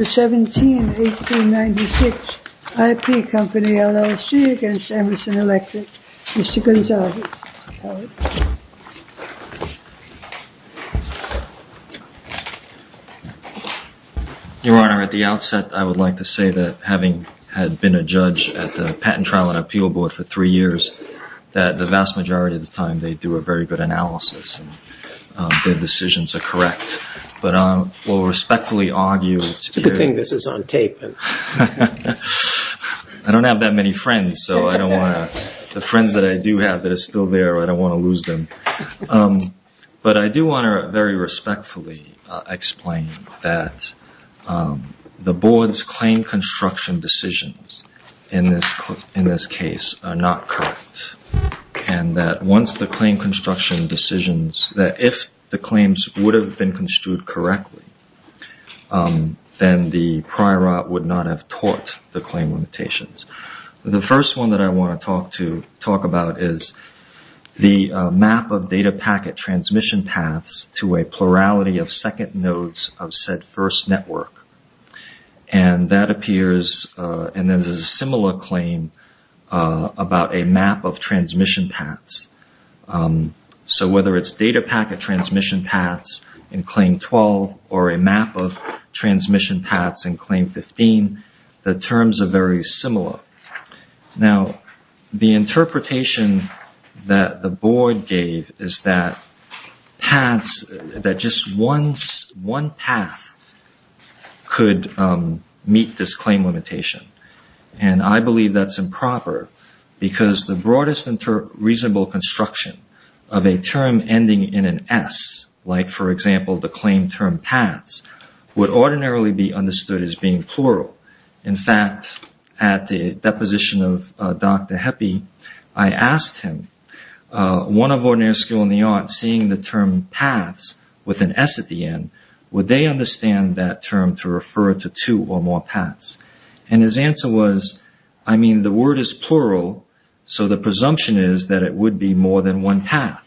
November 17, 1896, IP Company, LLC against Emerson Electric. Mr. Gonzales, Howard. Your Honor, at the outset I would like to say that having had been a judge at the Patent Trial and Appeal Board for three years, that the vast majority of the time they do a very good analysis and their decisions are correct. But I will respectfully argue... It's a good thing this is on tape. I don't have that many friends, so I don't want to... the friends that I do have that are still there, I don't want to lose them. But I do want to very respectfully explain that the Board's claim construction decisions in this case are not correct. And that once the claim construction decisions... that if the claims would have been construed correctly, then the prior art would not have taught the claim limitations. The first one that I want to talk about is the map of data packet transmission paths to a plurality of second nodes of said first network. And that appears in a similar claim about a map of transmission paths. So whether it's data packet transmission paths in Claim 12 or a map of transmission paths in Claim 15, the terms are very similar. Now, the interpretation that the Board gave is that paths... that just one path could meet this claim limitation. And I believe that's improper, because the broadest and reasonable construction of a term ending in an S, like, for example, the claim term paths, would ordinarily be understood as being plural. In fact, at the deposition of Dr. Heppe, I asked him, one of Ordinary School in the Arts, seeing the term paths with an S at the end, would they understand that term to refer to two or more paths? And his answer was, I mean, the word is plural, so the presumption is that it would be more than one path.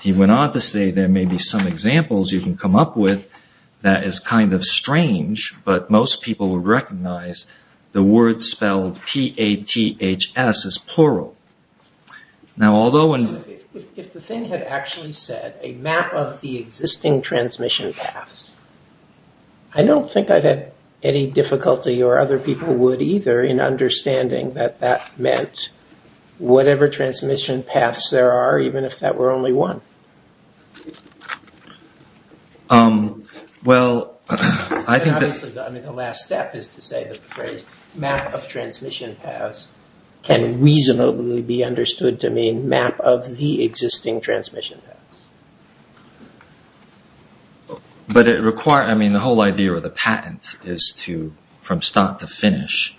He went on to say there may be some examples you can come up with that is kind of strange, but most people would recognize the word spelled P-A-T-H-S as plural. If the thing had actually said a map of the existing transmission paths, I don't think I'd have any difficulty, or other people would either, in understanding that that meant whatever transmission paths there are, even if that were only one. I mean, the last step is to say that the phrase map of transmission paths can reasonably be understood to mean map of the existing transmission paths. But it requires, I mean, the whole idea of the patent is to, from start to finish,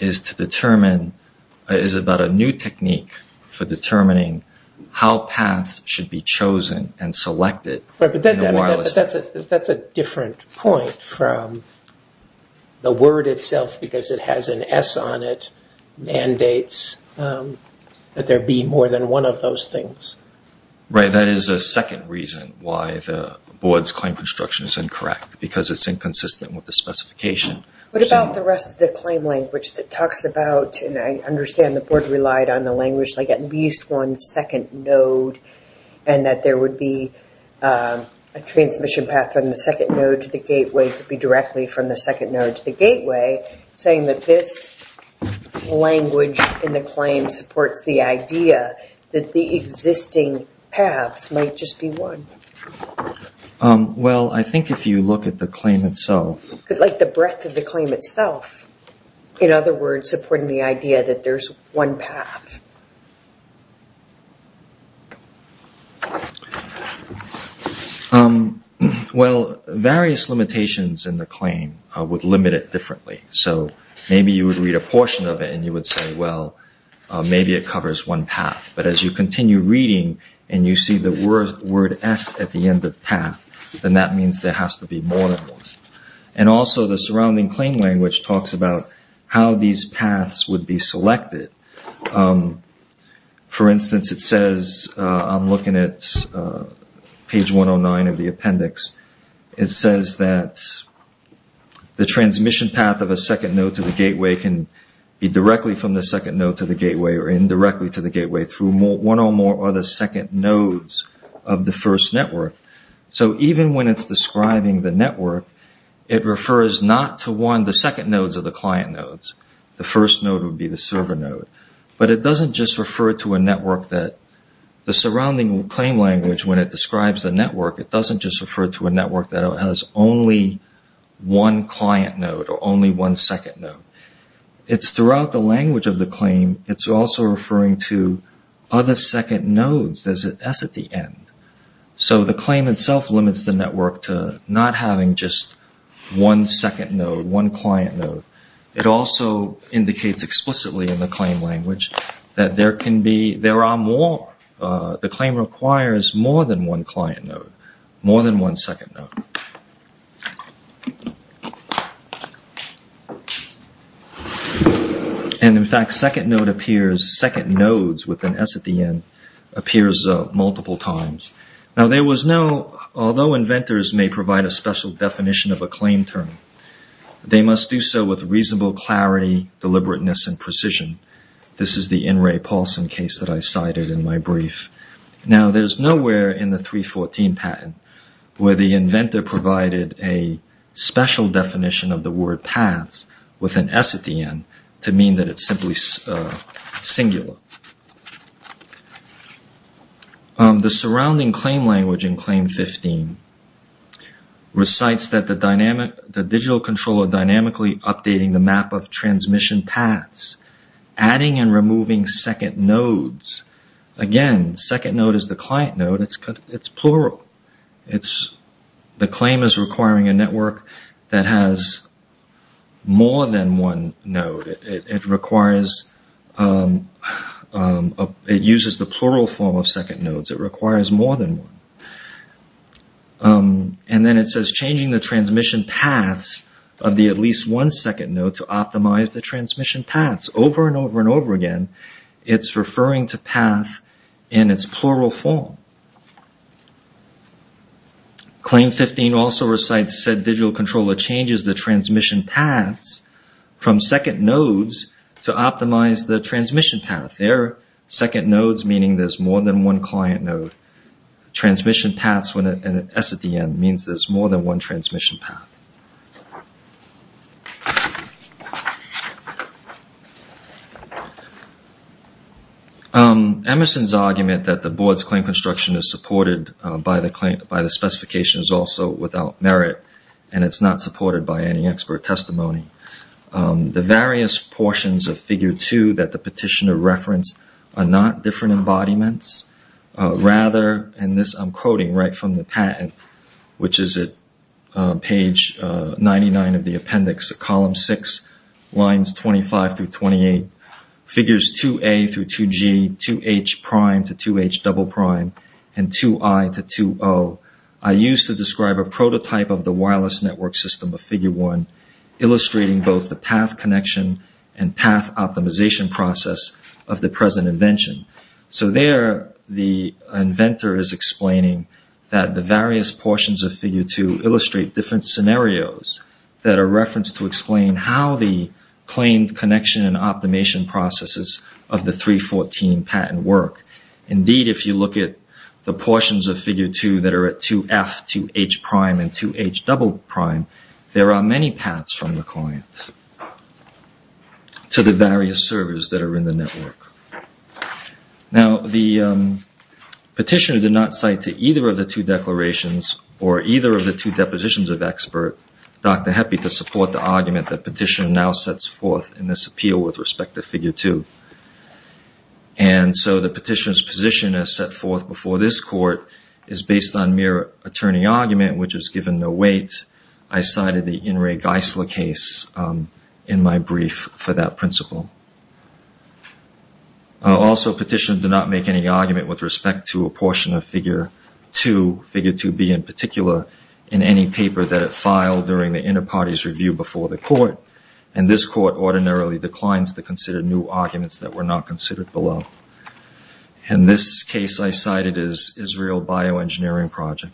is to determine, is about a new technique for determining how paths should be chosen and selected. Right, but that's a different point from the word itself, because it has an S on it, mandates that there be more than one of those things. Right, that is a second reason why the board's claim construction is incorrect, because it's inconsistent with the specification. What about the rest of the claim language that talks about, and I understand the board relied on the language like at least one second node, and that there would be a transmission path from the second node to the gateway to be directly from the second node to the gateway, saying that this language in the claim supports the idea that the existing paths might just be one. Well, I think if you look at the claim itself. Like the breadth of the claim itself, in other words, supporting the idea that there's one path. Well, various limitations in the claim would limit it differently. So maybe you would read a portion of it and you would say, well, maybe it covers one path. But as you continue reading and you see the word S at the end of path, then that means there has to be more than one. And also the surrounding claim language talks about how these paths would be selected. For instance, it says, I'm looking at page 109 of the appendix. It says that the transmission path of a second node to the gateway can be directly from the second node to the gateway or indirectly to the gateway through one or more other second nodes of the first network. So even when it's describing the network, it refers not to one of the second nodes of the client nodes. The first node would be the server node. But it doesn't just refer to a network that the surrounding claim language, when it describes the network, it doesn't just refer to a network that has only one client node or only one second node. It's throughout the language of the claim. It's also referring to other second nodes. There's an S at the end. So the claim itself limits the network to not having just one second node, one client node. It also indicates explicitly in the claim language that there are more. The claim requires more than one client node, more than one second node. And in fact, second node appears, second nodes with an S at the end, appears multiple times. Now there was no, although inventors may provide a special definition of a claim term, they must do so with reasonable clarity, deliberateness, and precision. This is the In Ray Paulson case that I cited in my brief. Now there's nowhere in the 3.14 patent where the inventor provided a special definition of the word paths with an S at the end to mean that it's simply singular. The surrounding claim language in claim 15 recites that the digital controller dynamically updating the map of transmission paths, adding and removing second nodes. Again, second node is the client node, it's plural. The claim is requiring a network that has more than one node. It requires, it uses the plural form of second nodes, it requires more than one. And then it says changing the transmission paths of the at least one second node to optimize the transmission paths. Over and over and over again, it's referring to path in its plural form. Claim 15 also recites said digital controller changes the transmission paths from second nodes to optimize the transmission path. Their second nodes meaning there's more than one client node. Transmission paths with an S at the end means there's more than one transmission path. Emerson's argument that the board's claim construction is supported by the specification is also without merit and it's not supported by any expert testimony. The various portions of figure two that the petitioner referenced are not different embodiments. Rather, and this I'm quoting right from the patent, which is at page 99 of the appendix at column six, lines 25 through 28, figures 2A through 2G, 2H prime to 2H double prime, and 2I to 2O, are used to describe a prototype of the wireless network system of figure one, illustrating both the path connection and path optimization process of the present invention. So there the inventor is explaining that the various portions of figure two illustrate different scenarios that are referenced to explain how the claimed connection and optimization processes of the 314 patent work. Indeed, if you look at the portions of figure two that are at 2F, 2H prime, and 2H double prime, there are many paths from the client to the various servers that are in the network. Now, the petitioner did not cite to either of the two declarations or either of the two depositions of expert, Dr. Heppe, to support the argument that petitioner now sets forth in this appeal with respect to figure two. And so the petitioner's position as set forth before this court is based on mere attorney argument, which is given no weight. I cited the In re Geisler case in my brief for that principle. Also, petitioner did not make any argument with respect to a portion of figure two, figure 2B in particular, in any paper that it filed during the inter-parties review before the court, and this court ordinarily declines to consider new arguments that were not considered below. And this case I cited is Israel Bioengineering Project.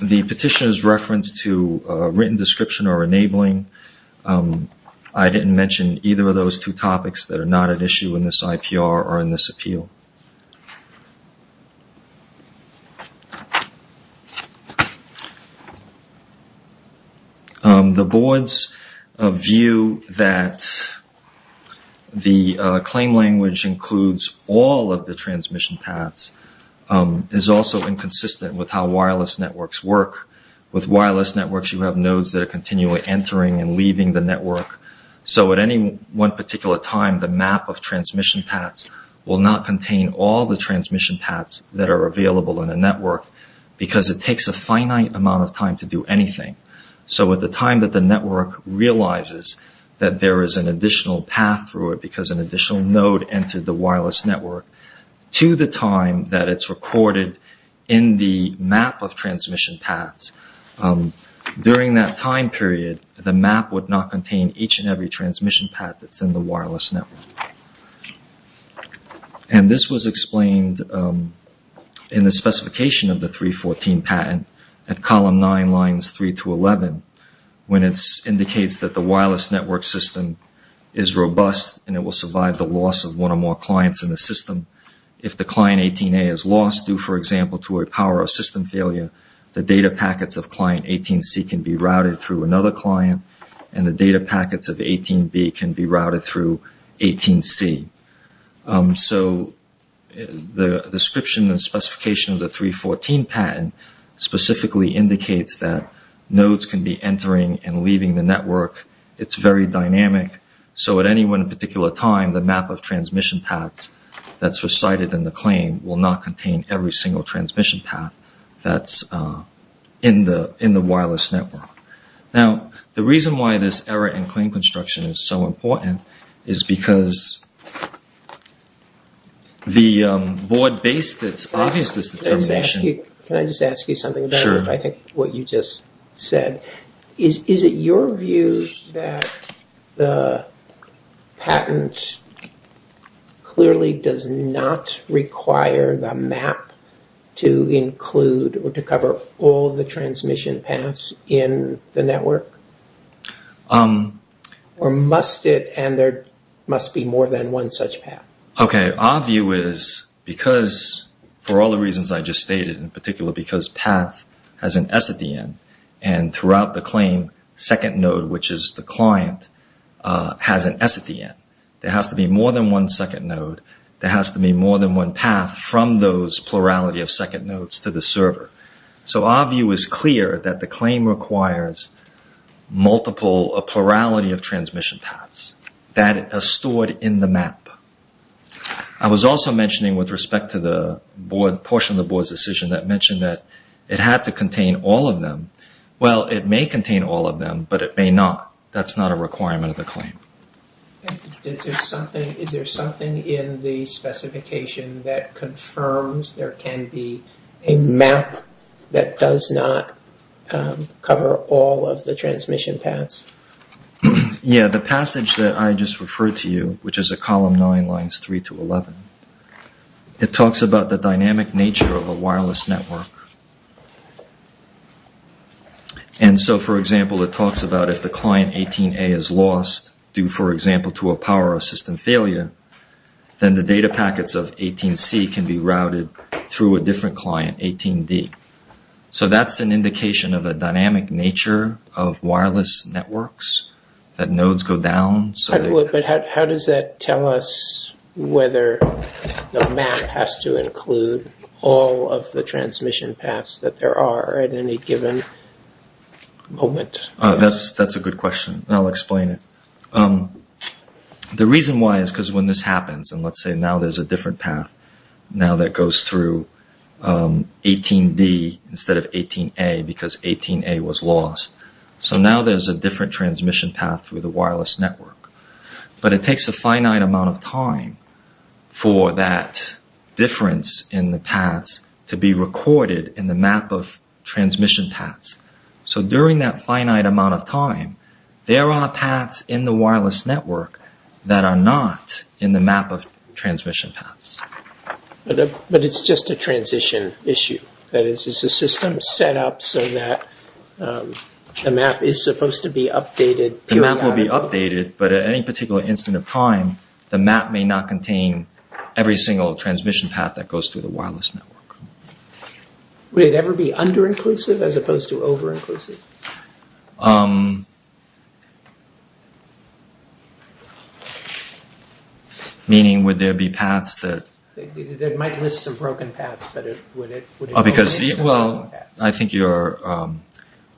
The petitioner's reference to written description or enabling, I didn't mention either of those two topics that are not at issue in this IPR or in this appeal. The board's view that the claim language includes all of the transmission paths is also inconsistent with how wireless networks work. With wireless networks, you have nodes that are continually entering and leaving the network. So at any one particular time, the map of transmission paths will not contain all the transmission paths that are available in a network because it takes a finite amount of time to do anything. So at the time that the network realizes that there is an additional path through it because an additional node entered the wireless network, to the time that it's recorded in the map of transmission paths, during that time period, the map would not contain each and every transmission path that's in the wireless network. And this was explained in the specification of the 314 patent at column 9, lines 3 to 11, when it indicates that the wireless network system is robust and it will survive the loss of one or more clients in the system. If the client 18A is lost due, for example, to a power or system failure, the data packets of client 18C can be routed through another client and the data packets of 18B can be routed through 18C. So the description and specification of the 314 patent specifically indicates that nodes can be entering and leaving the network. It's very dynamic, so at any one particular time, the map of transmission paths that's recited in the claim will not contain every single transmission path that's in the wireless network. Now, the reason why this error in claim construction is so important is because the board based its obvious determination... Can I just ask you something about what you just said? Is it your view that the patent clearly does not require the map to include or to cover all the transmission paths in the network? Or must it, and there must be more than one such path? Okay, our view is because, for all the reasons I just stated in particular, because path has an S at the end, and throughout the claim, second node, which is the client, has an S at the end. There has to be more than one second node. There has to be more than one path from those plurality of second nodes to the server. So our view is clear that the claim requires multiple, a plurality of transmission paths that are stored in the map. I was also mentioning with respect to the portion of the board's decision that mentioned that it had to contain all of them. Well, it may contain all of them, but it may not. That's not a requirement of the claim. Is there something in the specification that confirms there can be a map that does not cover all of the transmission paths? Yeah, the passage that I just referred to you, which is at column 9, lines 3 to 11, it talks about the dynamic nature of a wireless network. And so, for example, it talks about if the client 18A is lost due, for example, to a power system failure, then the data packets of 18C can be routed through a different client, 18D. So that's an indication of a dynamic nature of wireless networks, that nodes go down. But how does that tell us whether the map has to include all of the transmission paths that there are at any given moment? That's a good question, and I'll explain it. The reason why is because when this happens, and let's say now there's a different path, now that goes through 18D instead of 18A because 18A was lost. So now there's a different transmission path through the wireless network. But it takes a finite amount of time for that difference in the paths to be recorded in the map of transmission paths. So during that finite amount of time, there are paths in the wireless network that are not in the map of transmission paths. But it's just a transition issue. That is, is the system set up so that the map is supposed to be updated periodically? The map will be updated, but at any particular instant of time, the map may not contain every single transmission path that goes through the wireless network. Would it ever be under-inclusive as opposed to over-inclusive? Over-inclusive? Meaning, would there be paths that... It might list some broken paths, but would it... Because, well, I think your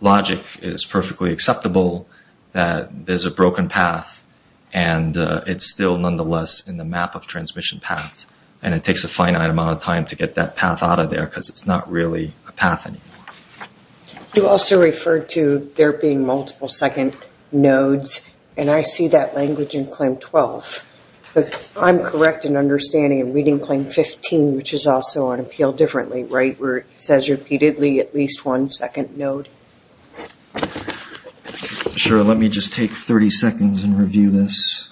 logic is perfectly acceptable that there's a broken path and it's still nonetheless in the map of transmission paths, and it takes a finite amount of time to get that path out of there because it's not really a path anymore. You also referred to there being multiple second nodes, and I see that language in claim 12. But I'm correct in understanding in reading claim 15, which is also on appeal differently, right, where it says repeatedly at least one second node. Sure, let me just take 30 seconds and review this.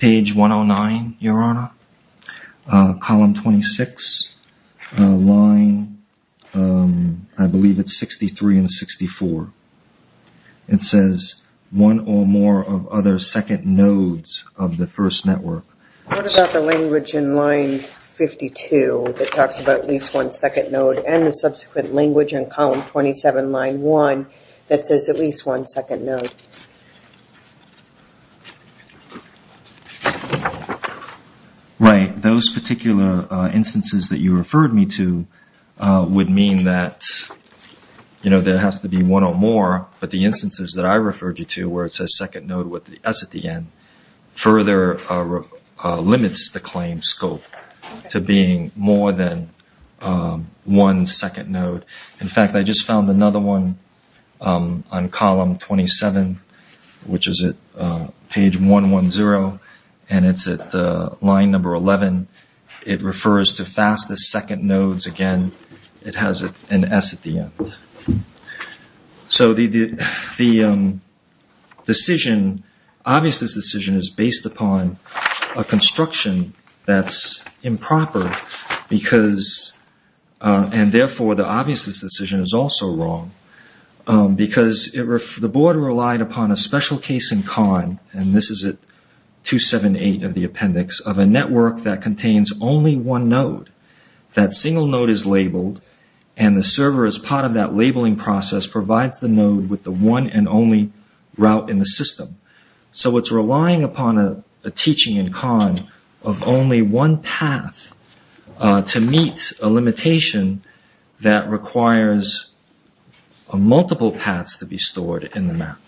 Page 109, Your Honor. Column 26. Line, I believe it's 63 and 64. It says, one or more of other second nodes of the first network. What about the language in line 52 that talks about at least one second node and the subsequent language in column 27, line 1, that says at least one second node? Right. Those particular instances that you referred me to would mean that there has to be one or more, but the instances that I referred you to where it says second node with the S at the end further limits the claim scope to being more than one second node. In fact, I just found another one on column 27, which is at page 110, and it's at line number 11. It refers to fastest second nodes. Again, it has an S at the end. So the decision, obviousness decision, is based upon a construction that's improper and therefore the obviousness decision is also wrong because the board relied upon a special case in con, and this is at 278 of the appendix, of a network that contains only one node. That single node is labeled, and the server as part of that labeling process provides the node with the one and only route in the system. So it's relying upon a teaching in con of only one path to meet a limitation that requires multiple paths to be stored in the map.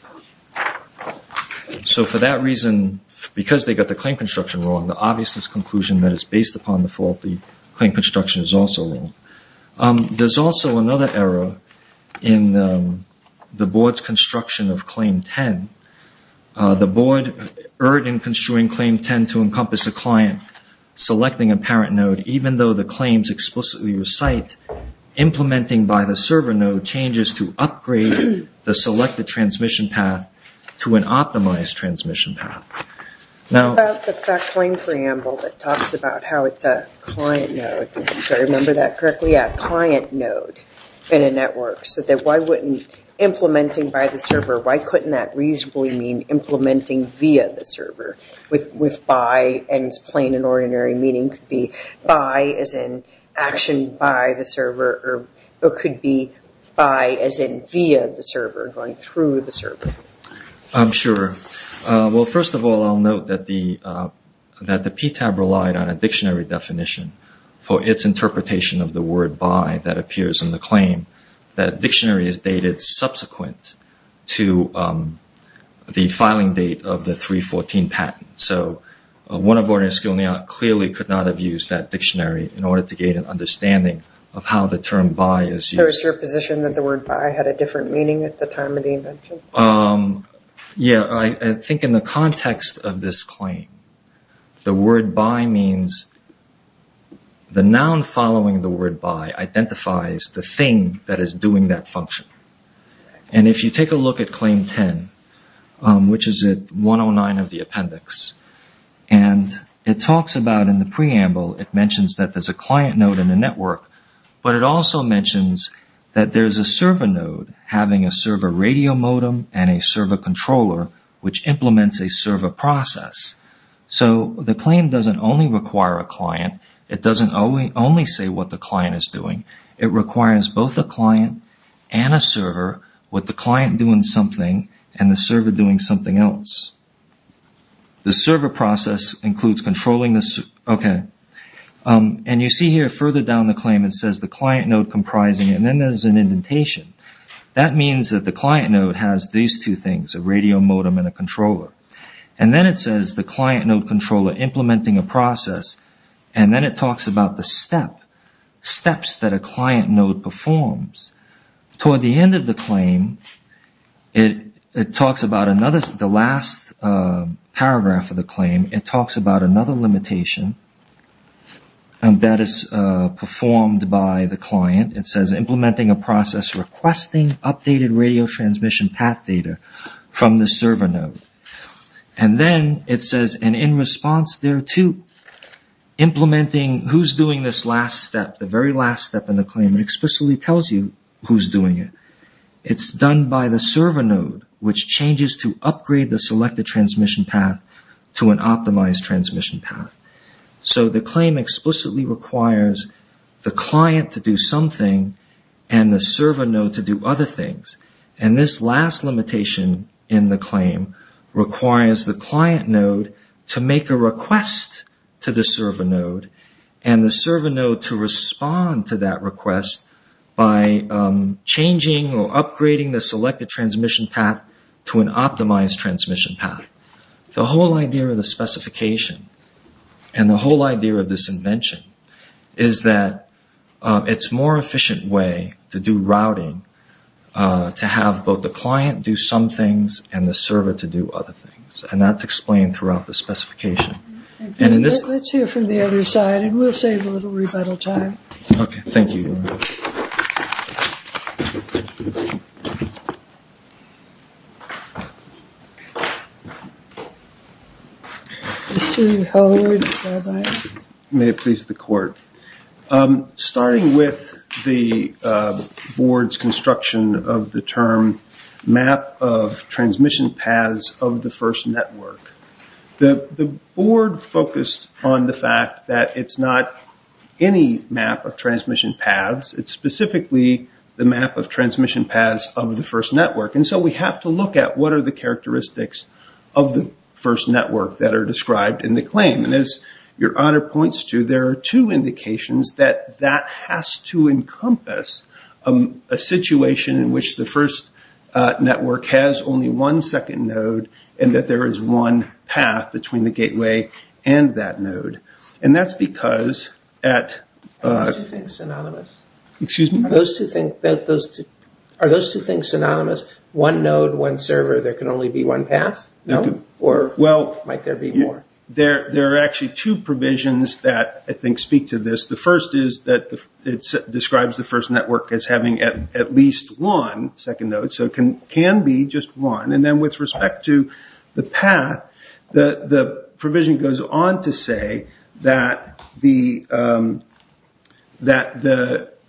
So for that reason, because they got the claim construction wrong, the obviousness conclusion that it's based upon the fault, the claim construction is also wrong. There's also another error in the board's construction of claim 10. The board erred in construing claim 10 to encompass a client selecting a parent node even though the claims explicitly recite implementing by the server node changes to upgrade the selected transmission path to an optimized transmission path. How about the fact claim preamble that talks about how it's a client node, if I remember that correctly, a client node in a network, so that why wouldn't implementing by the server, why couldn't that reasonably mean implementing via the server with by, and it's plain and ordinary meaning could be by as in action by the server, or it could be by as in via the server, going through the server. I'm sure. Well, first of all, I'll note that the PTAB relied on a dictionary definition for its interpretation of the word by that appears in the claim. That dictionary is dated subsequent to the filing date of the 3.14 patent. So one of ordinary skill neon clearly could not have used that dictionary in order to gain an understanding of how the term by is used. So is your position that the word by had a different meaning at the time of the invention? Yeah, I think in the context of this claim, the word by means the noun following the word by identifies the thing that is doing that function. And if you take a look at claim 10, which is at 109 of the appendix, and it talks about in the preamble, it mentions that there's a client node in a network, but it also mentions that there's a server node having a server radio modem and a server controller, which implements a server process. So the claim doesn't only require a client. It doesn't only say what the client is doing. It requires both the client and a server with the client doing something and the server doing something else. The server process includes controlling this. And you see here further down the claim it says the client node comprising and then there's an indentation. That means that the client node has these two things, a radio modem and a controller. And then it says the client node controller implementing a process, and then it talks about the steps that a client node performs. Toward the end of the claim, it talks about another, the last paragraph of the claim, it talks about another limitation that is performed by the client. It says implementing a process requesting updated radio transmission path data from the server node. And then it says, and in response there too, implementing who's doing this last step, the very last step in the claim, it explicitly tells you who's doing it. It's done by the server node, which changes to upgrade the selected transmission path to an optimized transmission path. So the claim explicitly requires the client to do something and the server node to do other things. And this last limitation in the claim requires the client node to make a request to the server node and the server node to respond to that request by changing or upgrading the selected transmission path to an optimized transmission path. The whole idea of the specification, and the whole idea of this invention, is that it's a more efficient way to do routing to have both the client do some things and the server to do other things. And that's explained throughout the specification. Let's hear from the other side, and we'll save a little rebuttal time. Okay, thank you. May it please the court. Starting with the board's construction of the term map of transmission paths of the first network, the board focused on the fact that it's not any map of transmission paths. It's specifically the map of transmission paths of the first network. And so we have to look at what are the characteristics of the first network that are described in the claim. And as your honor points to, there are two indications that that has to encompass a situation in which the first network has only one second node and that there is one path between the gateway and that node. And that's because at the. Are those two things synonymous? One node, one server, there can only be one path? No? Or might there be more? There are actually two provisions that I think speak to this. The first is that it describes the first network as having at least one second node. So it can be just one. And then with respect to the path, the provision goes on to say that the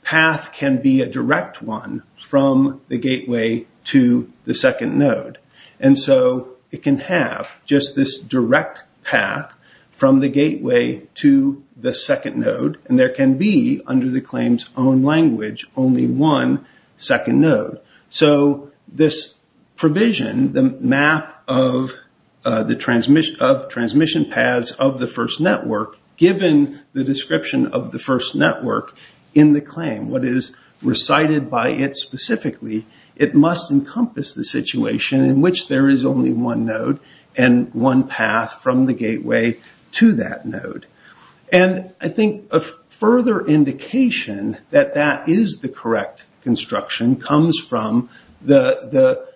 path can be a direct one from the gateway to the second node. And so it can have just this direct path from the gateway to the second node. And there can be, under the claim's own language, only one second node. So this provision, the map of the transmission of transmission paths of the first network, given the description of the first network in the claim, what is recited by it specifically, it must encompass the situation in which there is only one node and one path from the gateway to that node. And I think a further indication that that is the correct construction comes from the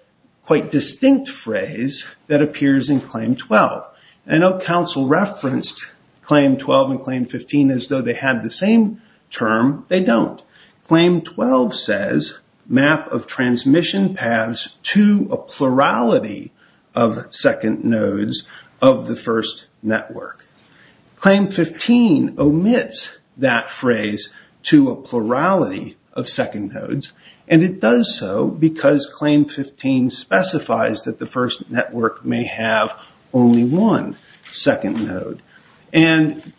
quite distinct phrase that appears in Claim 12. I know Council referenced Claim 12 and Claim 15 as though they had the same term. They don't. Claim 12 says map of transmission paths to a plurality of second nodes of the first network. Claim 15 omits that phrase to a plurality of second nodes. And it does so because Claim 15 specifies that the first network may have only one second node. And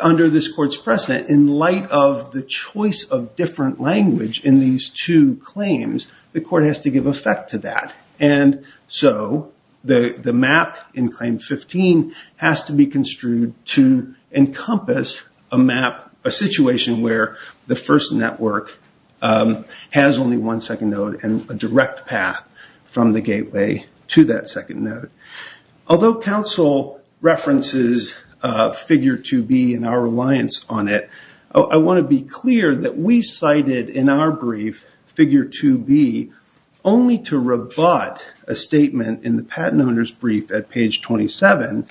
under this court's precedent, in light of the choice of different language in these two claims, the court has to give effect to that. And so the map in Claim 15 has to be construed to encompass a map, a situation where the first network has only one second node and a direct path from the gateway to that second node. Although Council references Figure 2B and our reliance on it, I want to be clear that we cited in our brief, Figure 2B, only to rebut a statement in the patent owner's brief at page 27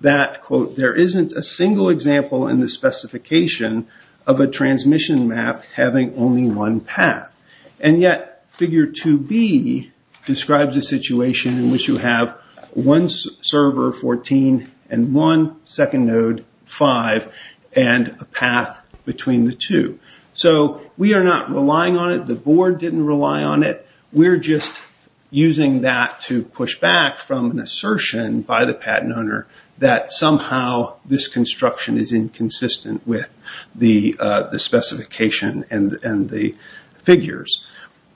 that, quote, there isn't a single example in the specification of a transmission map having only one path. And yet, Figure 2B describes a situation in which you have one server, 14, and one second node, 5, and a path between the two. So we are not relying on it. The board didn't rely on it. We're just using that to push back from an assertion by the patent owner that somehow this construction is inconsistent with the specification and the figures.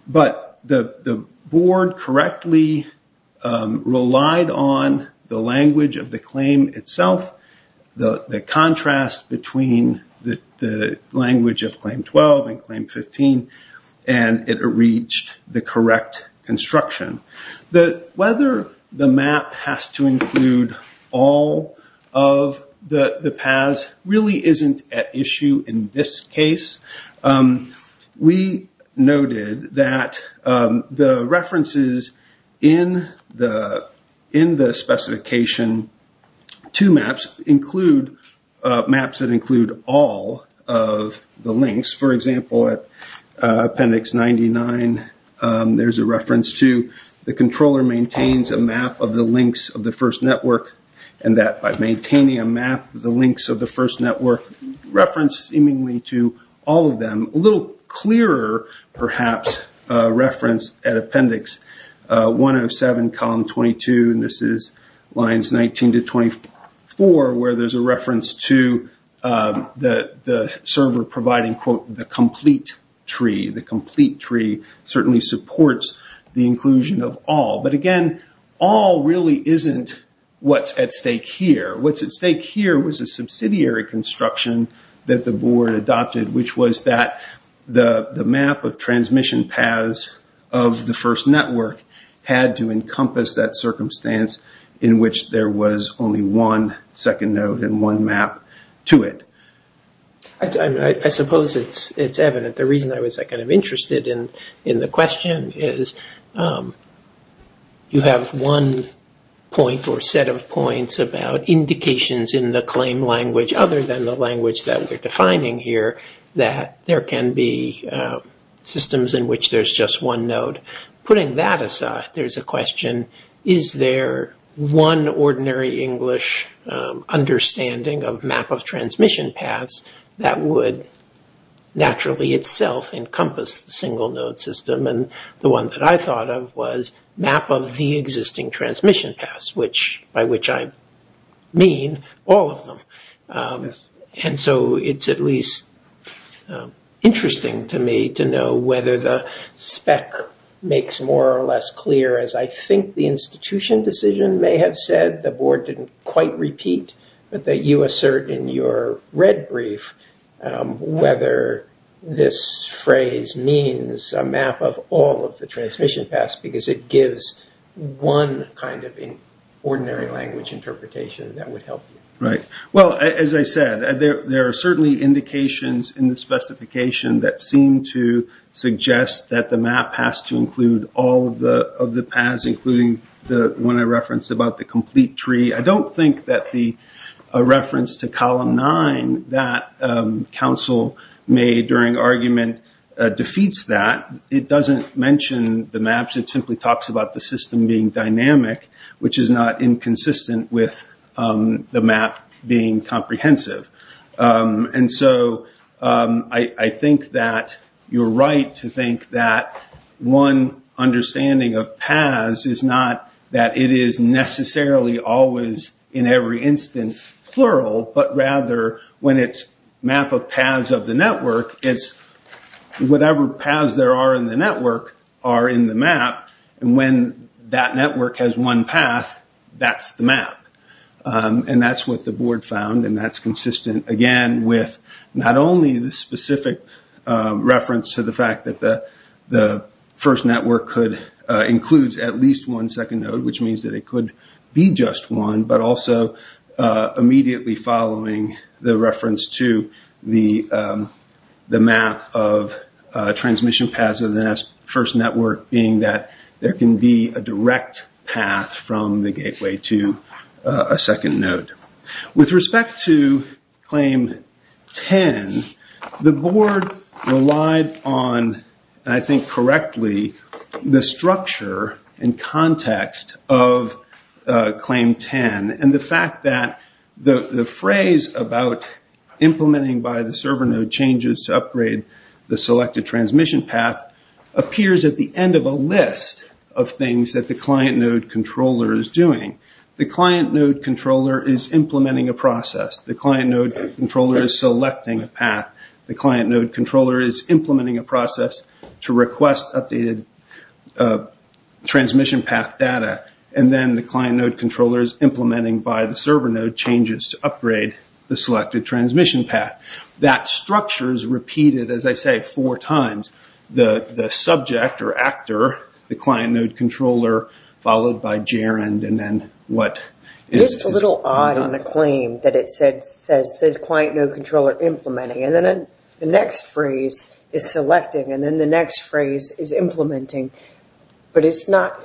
But the board correctly relied on the language of the claim itself, the contrast between the language of Claim 12 and Claim 15, and it reached the correct construction. Whether the map has to include all of the paths really isn't at issue in this case. We noted that the references in the specification to maps include maps that include all of the links. For example, at Appendix 99, there's a reference to the controller maintains a map of the links of the first network, and that by maintaining a map of the links of the first network, reference seemingly to all of them. A little clearer, perhaps, reference at Appendix 107, Column 22, and this is lines 19 to 24 where there's a reference to the server providing, quote, the complete tree. The complete tree certainly supports the inclusion of all. But, again, all really isn't what's at stake here. What's at stake here was a subsidiary construction that the board adopted, which was that the map of transmission paths of the first network had to encompass that circumstance in which there was only one second node and one map to it. I suppose it's evident. The reason I was interested in the question is you have one point or set of points about indications in the claim language other than the language that we're defining here that there can be systems in which there's just one node. Putting that aside, there's a question, is there one ordinary English understanding of map of transmission paths that would naturally itself encompass the single node system? And the one that I thought of was map of the existing transmission paths, by which I mean all of them. And so it's at least interesting to me to know whether the spec makes more or less clear, as I think the institution decision may have said, the board didn't quite repeat, but that you assert in your red brief whether this phrase means a map of all of the transmission paths because it gives one kind of ordinary language interpretation that would help you. As I said, there are certainly indications in the specification that seem to suggest that the map has to include all of the paths, including the one I referenced about the complete tree. I don't think that the reference to column nine that counsel made during argument defeats that. It doesn't mention the maps, it simply talks about the system being dynamic, which is not inconsistent with the map being comprehensive. And so I think that you're right to think that one understanding of paths is not that it is necessarily always in every instance plural, but rather when it's map of paths of the network, it's whatever paths there are in the network are in the map, and when that network has one path, that's the map. And that's what the board found, and that's consistent, again, with not only the specific reference to the fact that the first network includes at least one second node, which means that it could be just one, but also immediately following the reference to the map of transmission paths of the first network, being that there can be a direct path from the gateway to a second node. With respect to claim 10, the board relied on, and I think correctly, the structure and context of claim 10, and the fact that the phrase about implementing by the server node changes to upgrade the selected transmission path appears at the end of a list of things that the client node controller is doing. The client node controller is implementing a process. The client node controller is selecting a path. The client node controller is implementing a process to request updated transmission path data, and then the client node controller is implementing by the server node changes to upgrade the selected transmission path. That structure is repeated, as I say, four times. The subject or actor, the client node controller, followed by Jarend, and then what? It is a little odd in the claim that it says the client node controller implementing, and then the next phrase is selecting, and then the next phrase is implementing, but it's not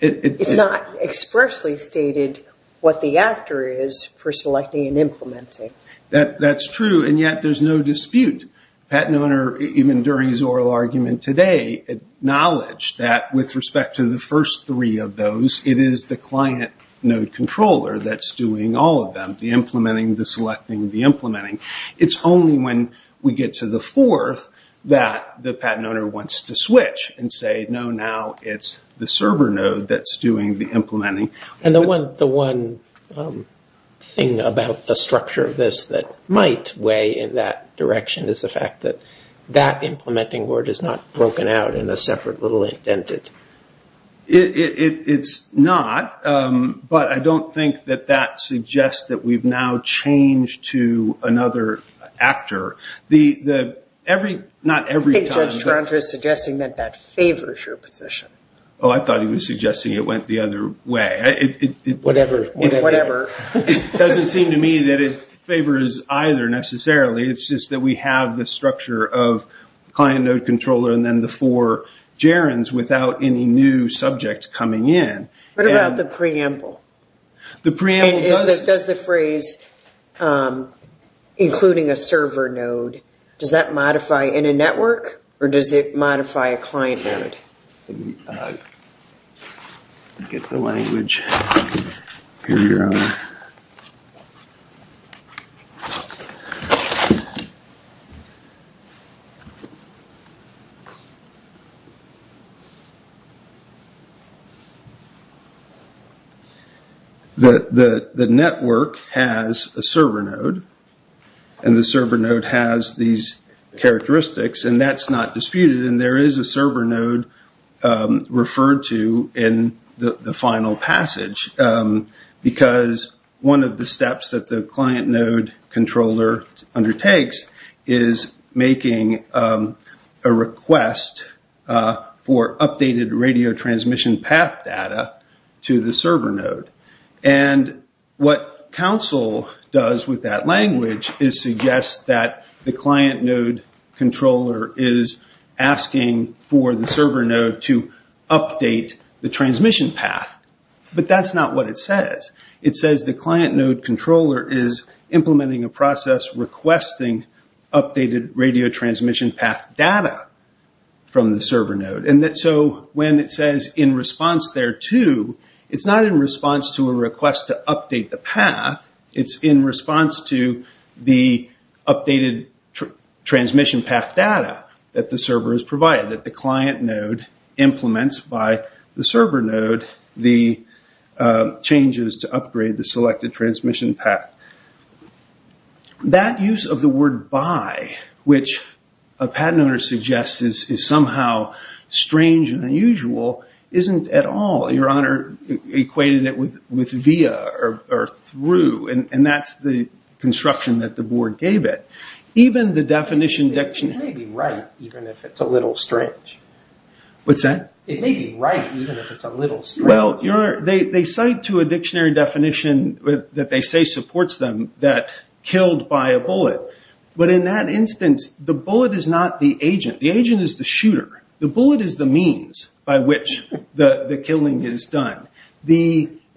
expressly stated what the actor is for selecting and implementing. That's true, and yet there's no dispute. The patent owner, even during his oral argument today, acknowledged that with respect to the first three of those, it is the client node controller that's doing all of them, the implementing, the selecting, the implementing. It's only when we get to the fourth that the patent owner wants to switch and say, no, now it's the server node that's doing the implementing. And the one thing about the structure of this that might weigh in that direction is the fact that that implementing word is not broken out in a separate little indent. It's not, but I don't think that that suggests that we've now changed to another actor. I think Judge Toronto is suggesting that that favors your position. Oh, I thought he was suggesting it went the other way. Whatever. It doesn't seem to me that it favors either necessarily. It's just that we have the structure of client node controller and then the four gerunds without any new subject coming in. What about the preamble? The preamble does... Does the phrase including a server node, does that modify in a network, or does it modify a client node? Let me get the language here, Your Honor. The network has a server node, and the server node has these characteristics, and that's not disputed, and there is a server node referred to in the final passage. Because one of the steps that the client node controller undertakes is making a request for updated radio transmission path data to the server node. What counsel does with that language is suggest that the client node controller is asking for the server node to update the transmission path. But that's not what it says. It says the client node controller is implementing a process requesting updated radio transmission path data from the server node. When it says in response thereto, it's not in response to a request to update the path, it's in response to the updated transmission path data that the server has provided that the client node implements by the server node the changes to upgrade the selected transmission path. That use of the word by, which a patent owner suggests is somehow strange and unusual, isn't at all. Your Honor equated it with via, or through, and that's the construction that the board gave it. Even the definition... It may be right, even if it's a little strange. What's that? It may be right, even if it's a little strange. Well, Your Honor, they cite to a dictionary definition that they say supports them that killed by a bullet. But in that instance, the bullet is not the agent. The agent is the shooter. The bullet is the means by which the killing is done.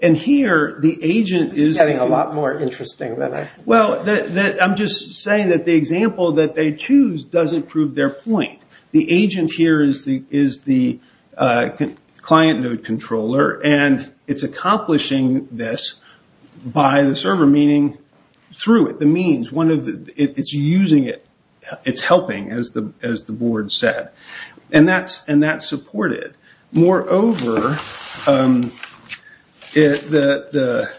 And here, the agent is... It's getting a lot more interesting than I... Well, I'm just saying that the example that they choose doesn't prove their point. The agent here is the client node controller, and it's accomplishing this by the server, meaning through it, the means. It's using it. It's helping, as the board said. And that's supported. Moreover, the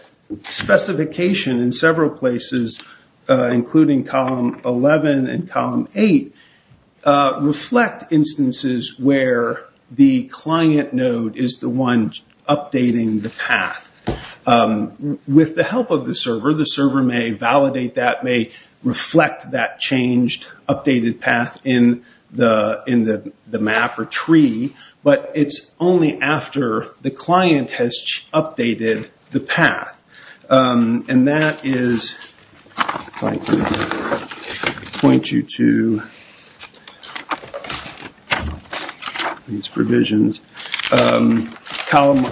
specification in several places, including column 11 and column 8, reflect instances where the client node is the one updating the path. With the help of the server, the server may validate that, may reflect that changed, updated path in the map or tree. But it's only after the client has updated the path. And that is... If I could point you to these provisions. Column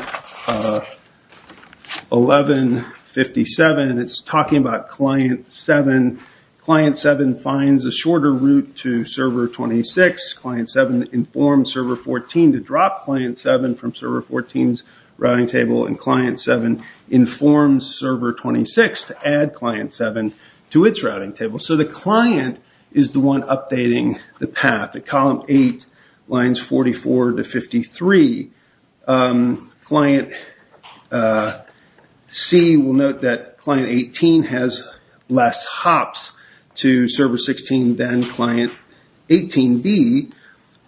1157, it's talking about client 7. Client 7 finds a shorter route to server 26. Client 7 informs server 14 to drop client 7 from server 14's routing table. And client 7 informs server 26 to add client 7 to its routing table. So the client is the one updating the path. At column 8, lines 44 to 53, client C will note that client 18 has less hops to server 16 than client 18B.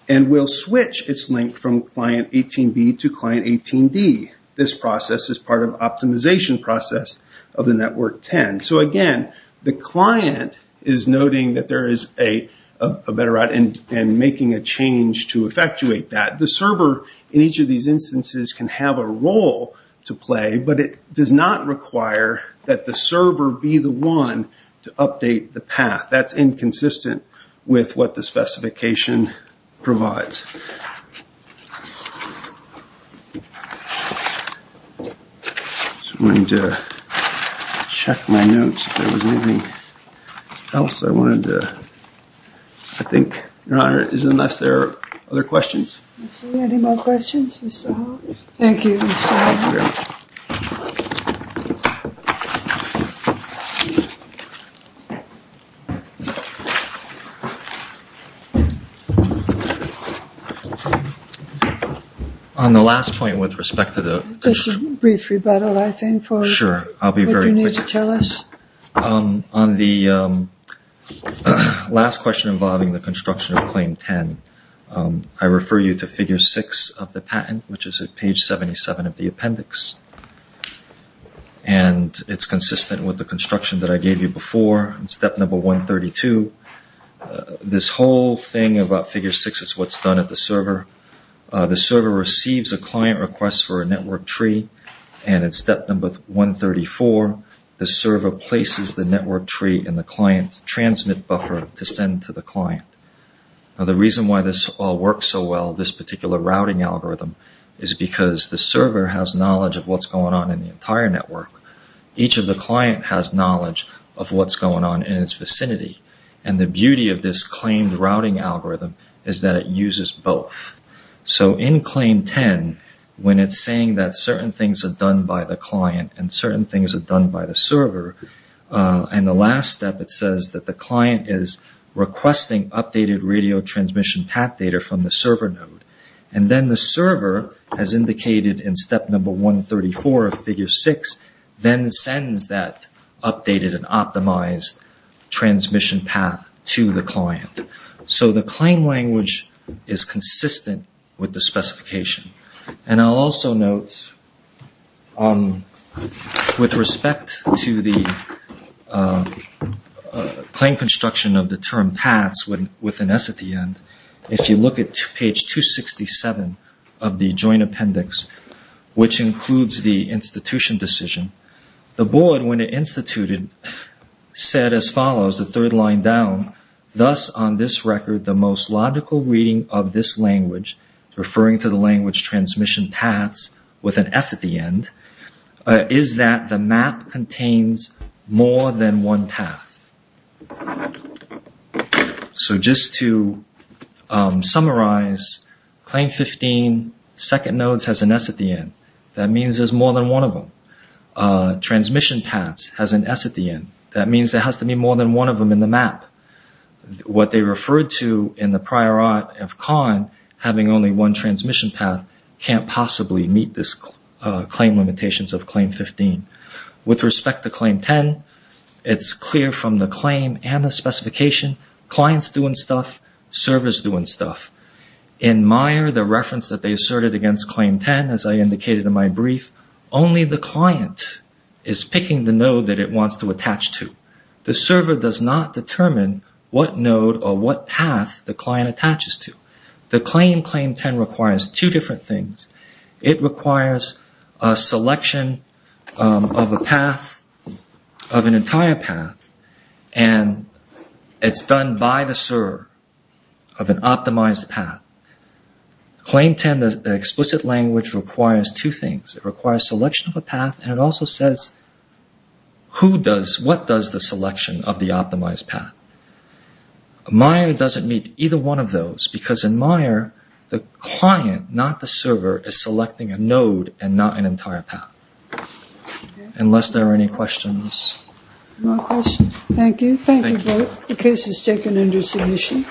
And will switch its link from client 18B to client 18D. This process is part of optimization process of the network 10. So again, the client is noting that there is a better route and making a change to effectuate that. The server in each of these instances can have a role to play. But it does not require that the server be the one to update the path. That's inconsistent with what the specification provides. I'm just going to check my notes if there was anything else I wanted to... I think, Your Honor, unless there are other questions. Any more questions, Mr. Hall? Thank you, Mr. Hall. Thank you, Your Honor. On the last point with respect to the... Just a brief rebuttal, I think, for what you need to tell us. Sure, I'll be very quick. On the last question involving the construction of Claim 10, I refer you to figure 6 of the patent, which is at page 77 of the appendix. And it's consistent with the construction that I gave you before, step number 132. This whole thing about figure 6 is what's done at the server. The server receives a client request for a network tree. And at step number 134, the server places the network tree in the client's transmit buffer to send to the client. Now, the reason why this all works so well, this particular routing algorithm, is because the server has knowledge of what's going on in the entire network. Each of the client has knowledge of what's going on in its vicinity. And the beauty of this claimed routing algorithm is that it uses both. So in Claim 10, when it's saying that certain things are done by the client and certain things are done by the server, in the last step it says that the client is requesting updated radio transmission path data from the server node. And then the server, as indicated in step number 134 of figure 6, then sends that updated and optimized transmission path to the client. So the claim language is consistent with the specification. And I'll also note, with respect to the claim construction of the term paths with an S at the end, if you look at page 267 of the joint appendix, which includes the institution decision, the board, when it instituted, said as follows, the third line down, thus on this record, the most logical reading of this language, referring to the language transmission paths with an S at the end, is that the map contains more than one path. So just to summarize, Claim 15, second nodes has an S at the end. That means there's more than one of them. Transmission paths has an S at the end. That means there has to be more than one of them in the map. What they referred to in the prior art of Kahn, having only one transmission path, can't possibly meet this claim limitations of Claim 15. With respect to Claim 10, it's clear from the claim and the specification, client's doing stuff, server's doing stuff. In Meyer, the reference that they asserted against Claim 10, as I indicated in my brief, only the client is picking the node that it wants to attach to. The server does not determine what node or what path the client attaches to. The claim, Claim 10, requires two different things. It requires a selection of a path, of an entire path, and it's done by the server of an optimized path. Claim 10, the explicit language requires two things. It requires selection of a path, and it also says what does the selection of the optimized path. Meyer doesn't meet either one of those because in Meyer, the client, not the server, is selecting a node and not an entire path. Unless there are any questions. No questions. Thank you. Thank you both. The case is taken under submission.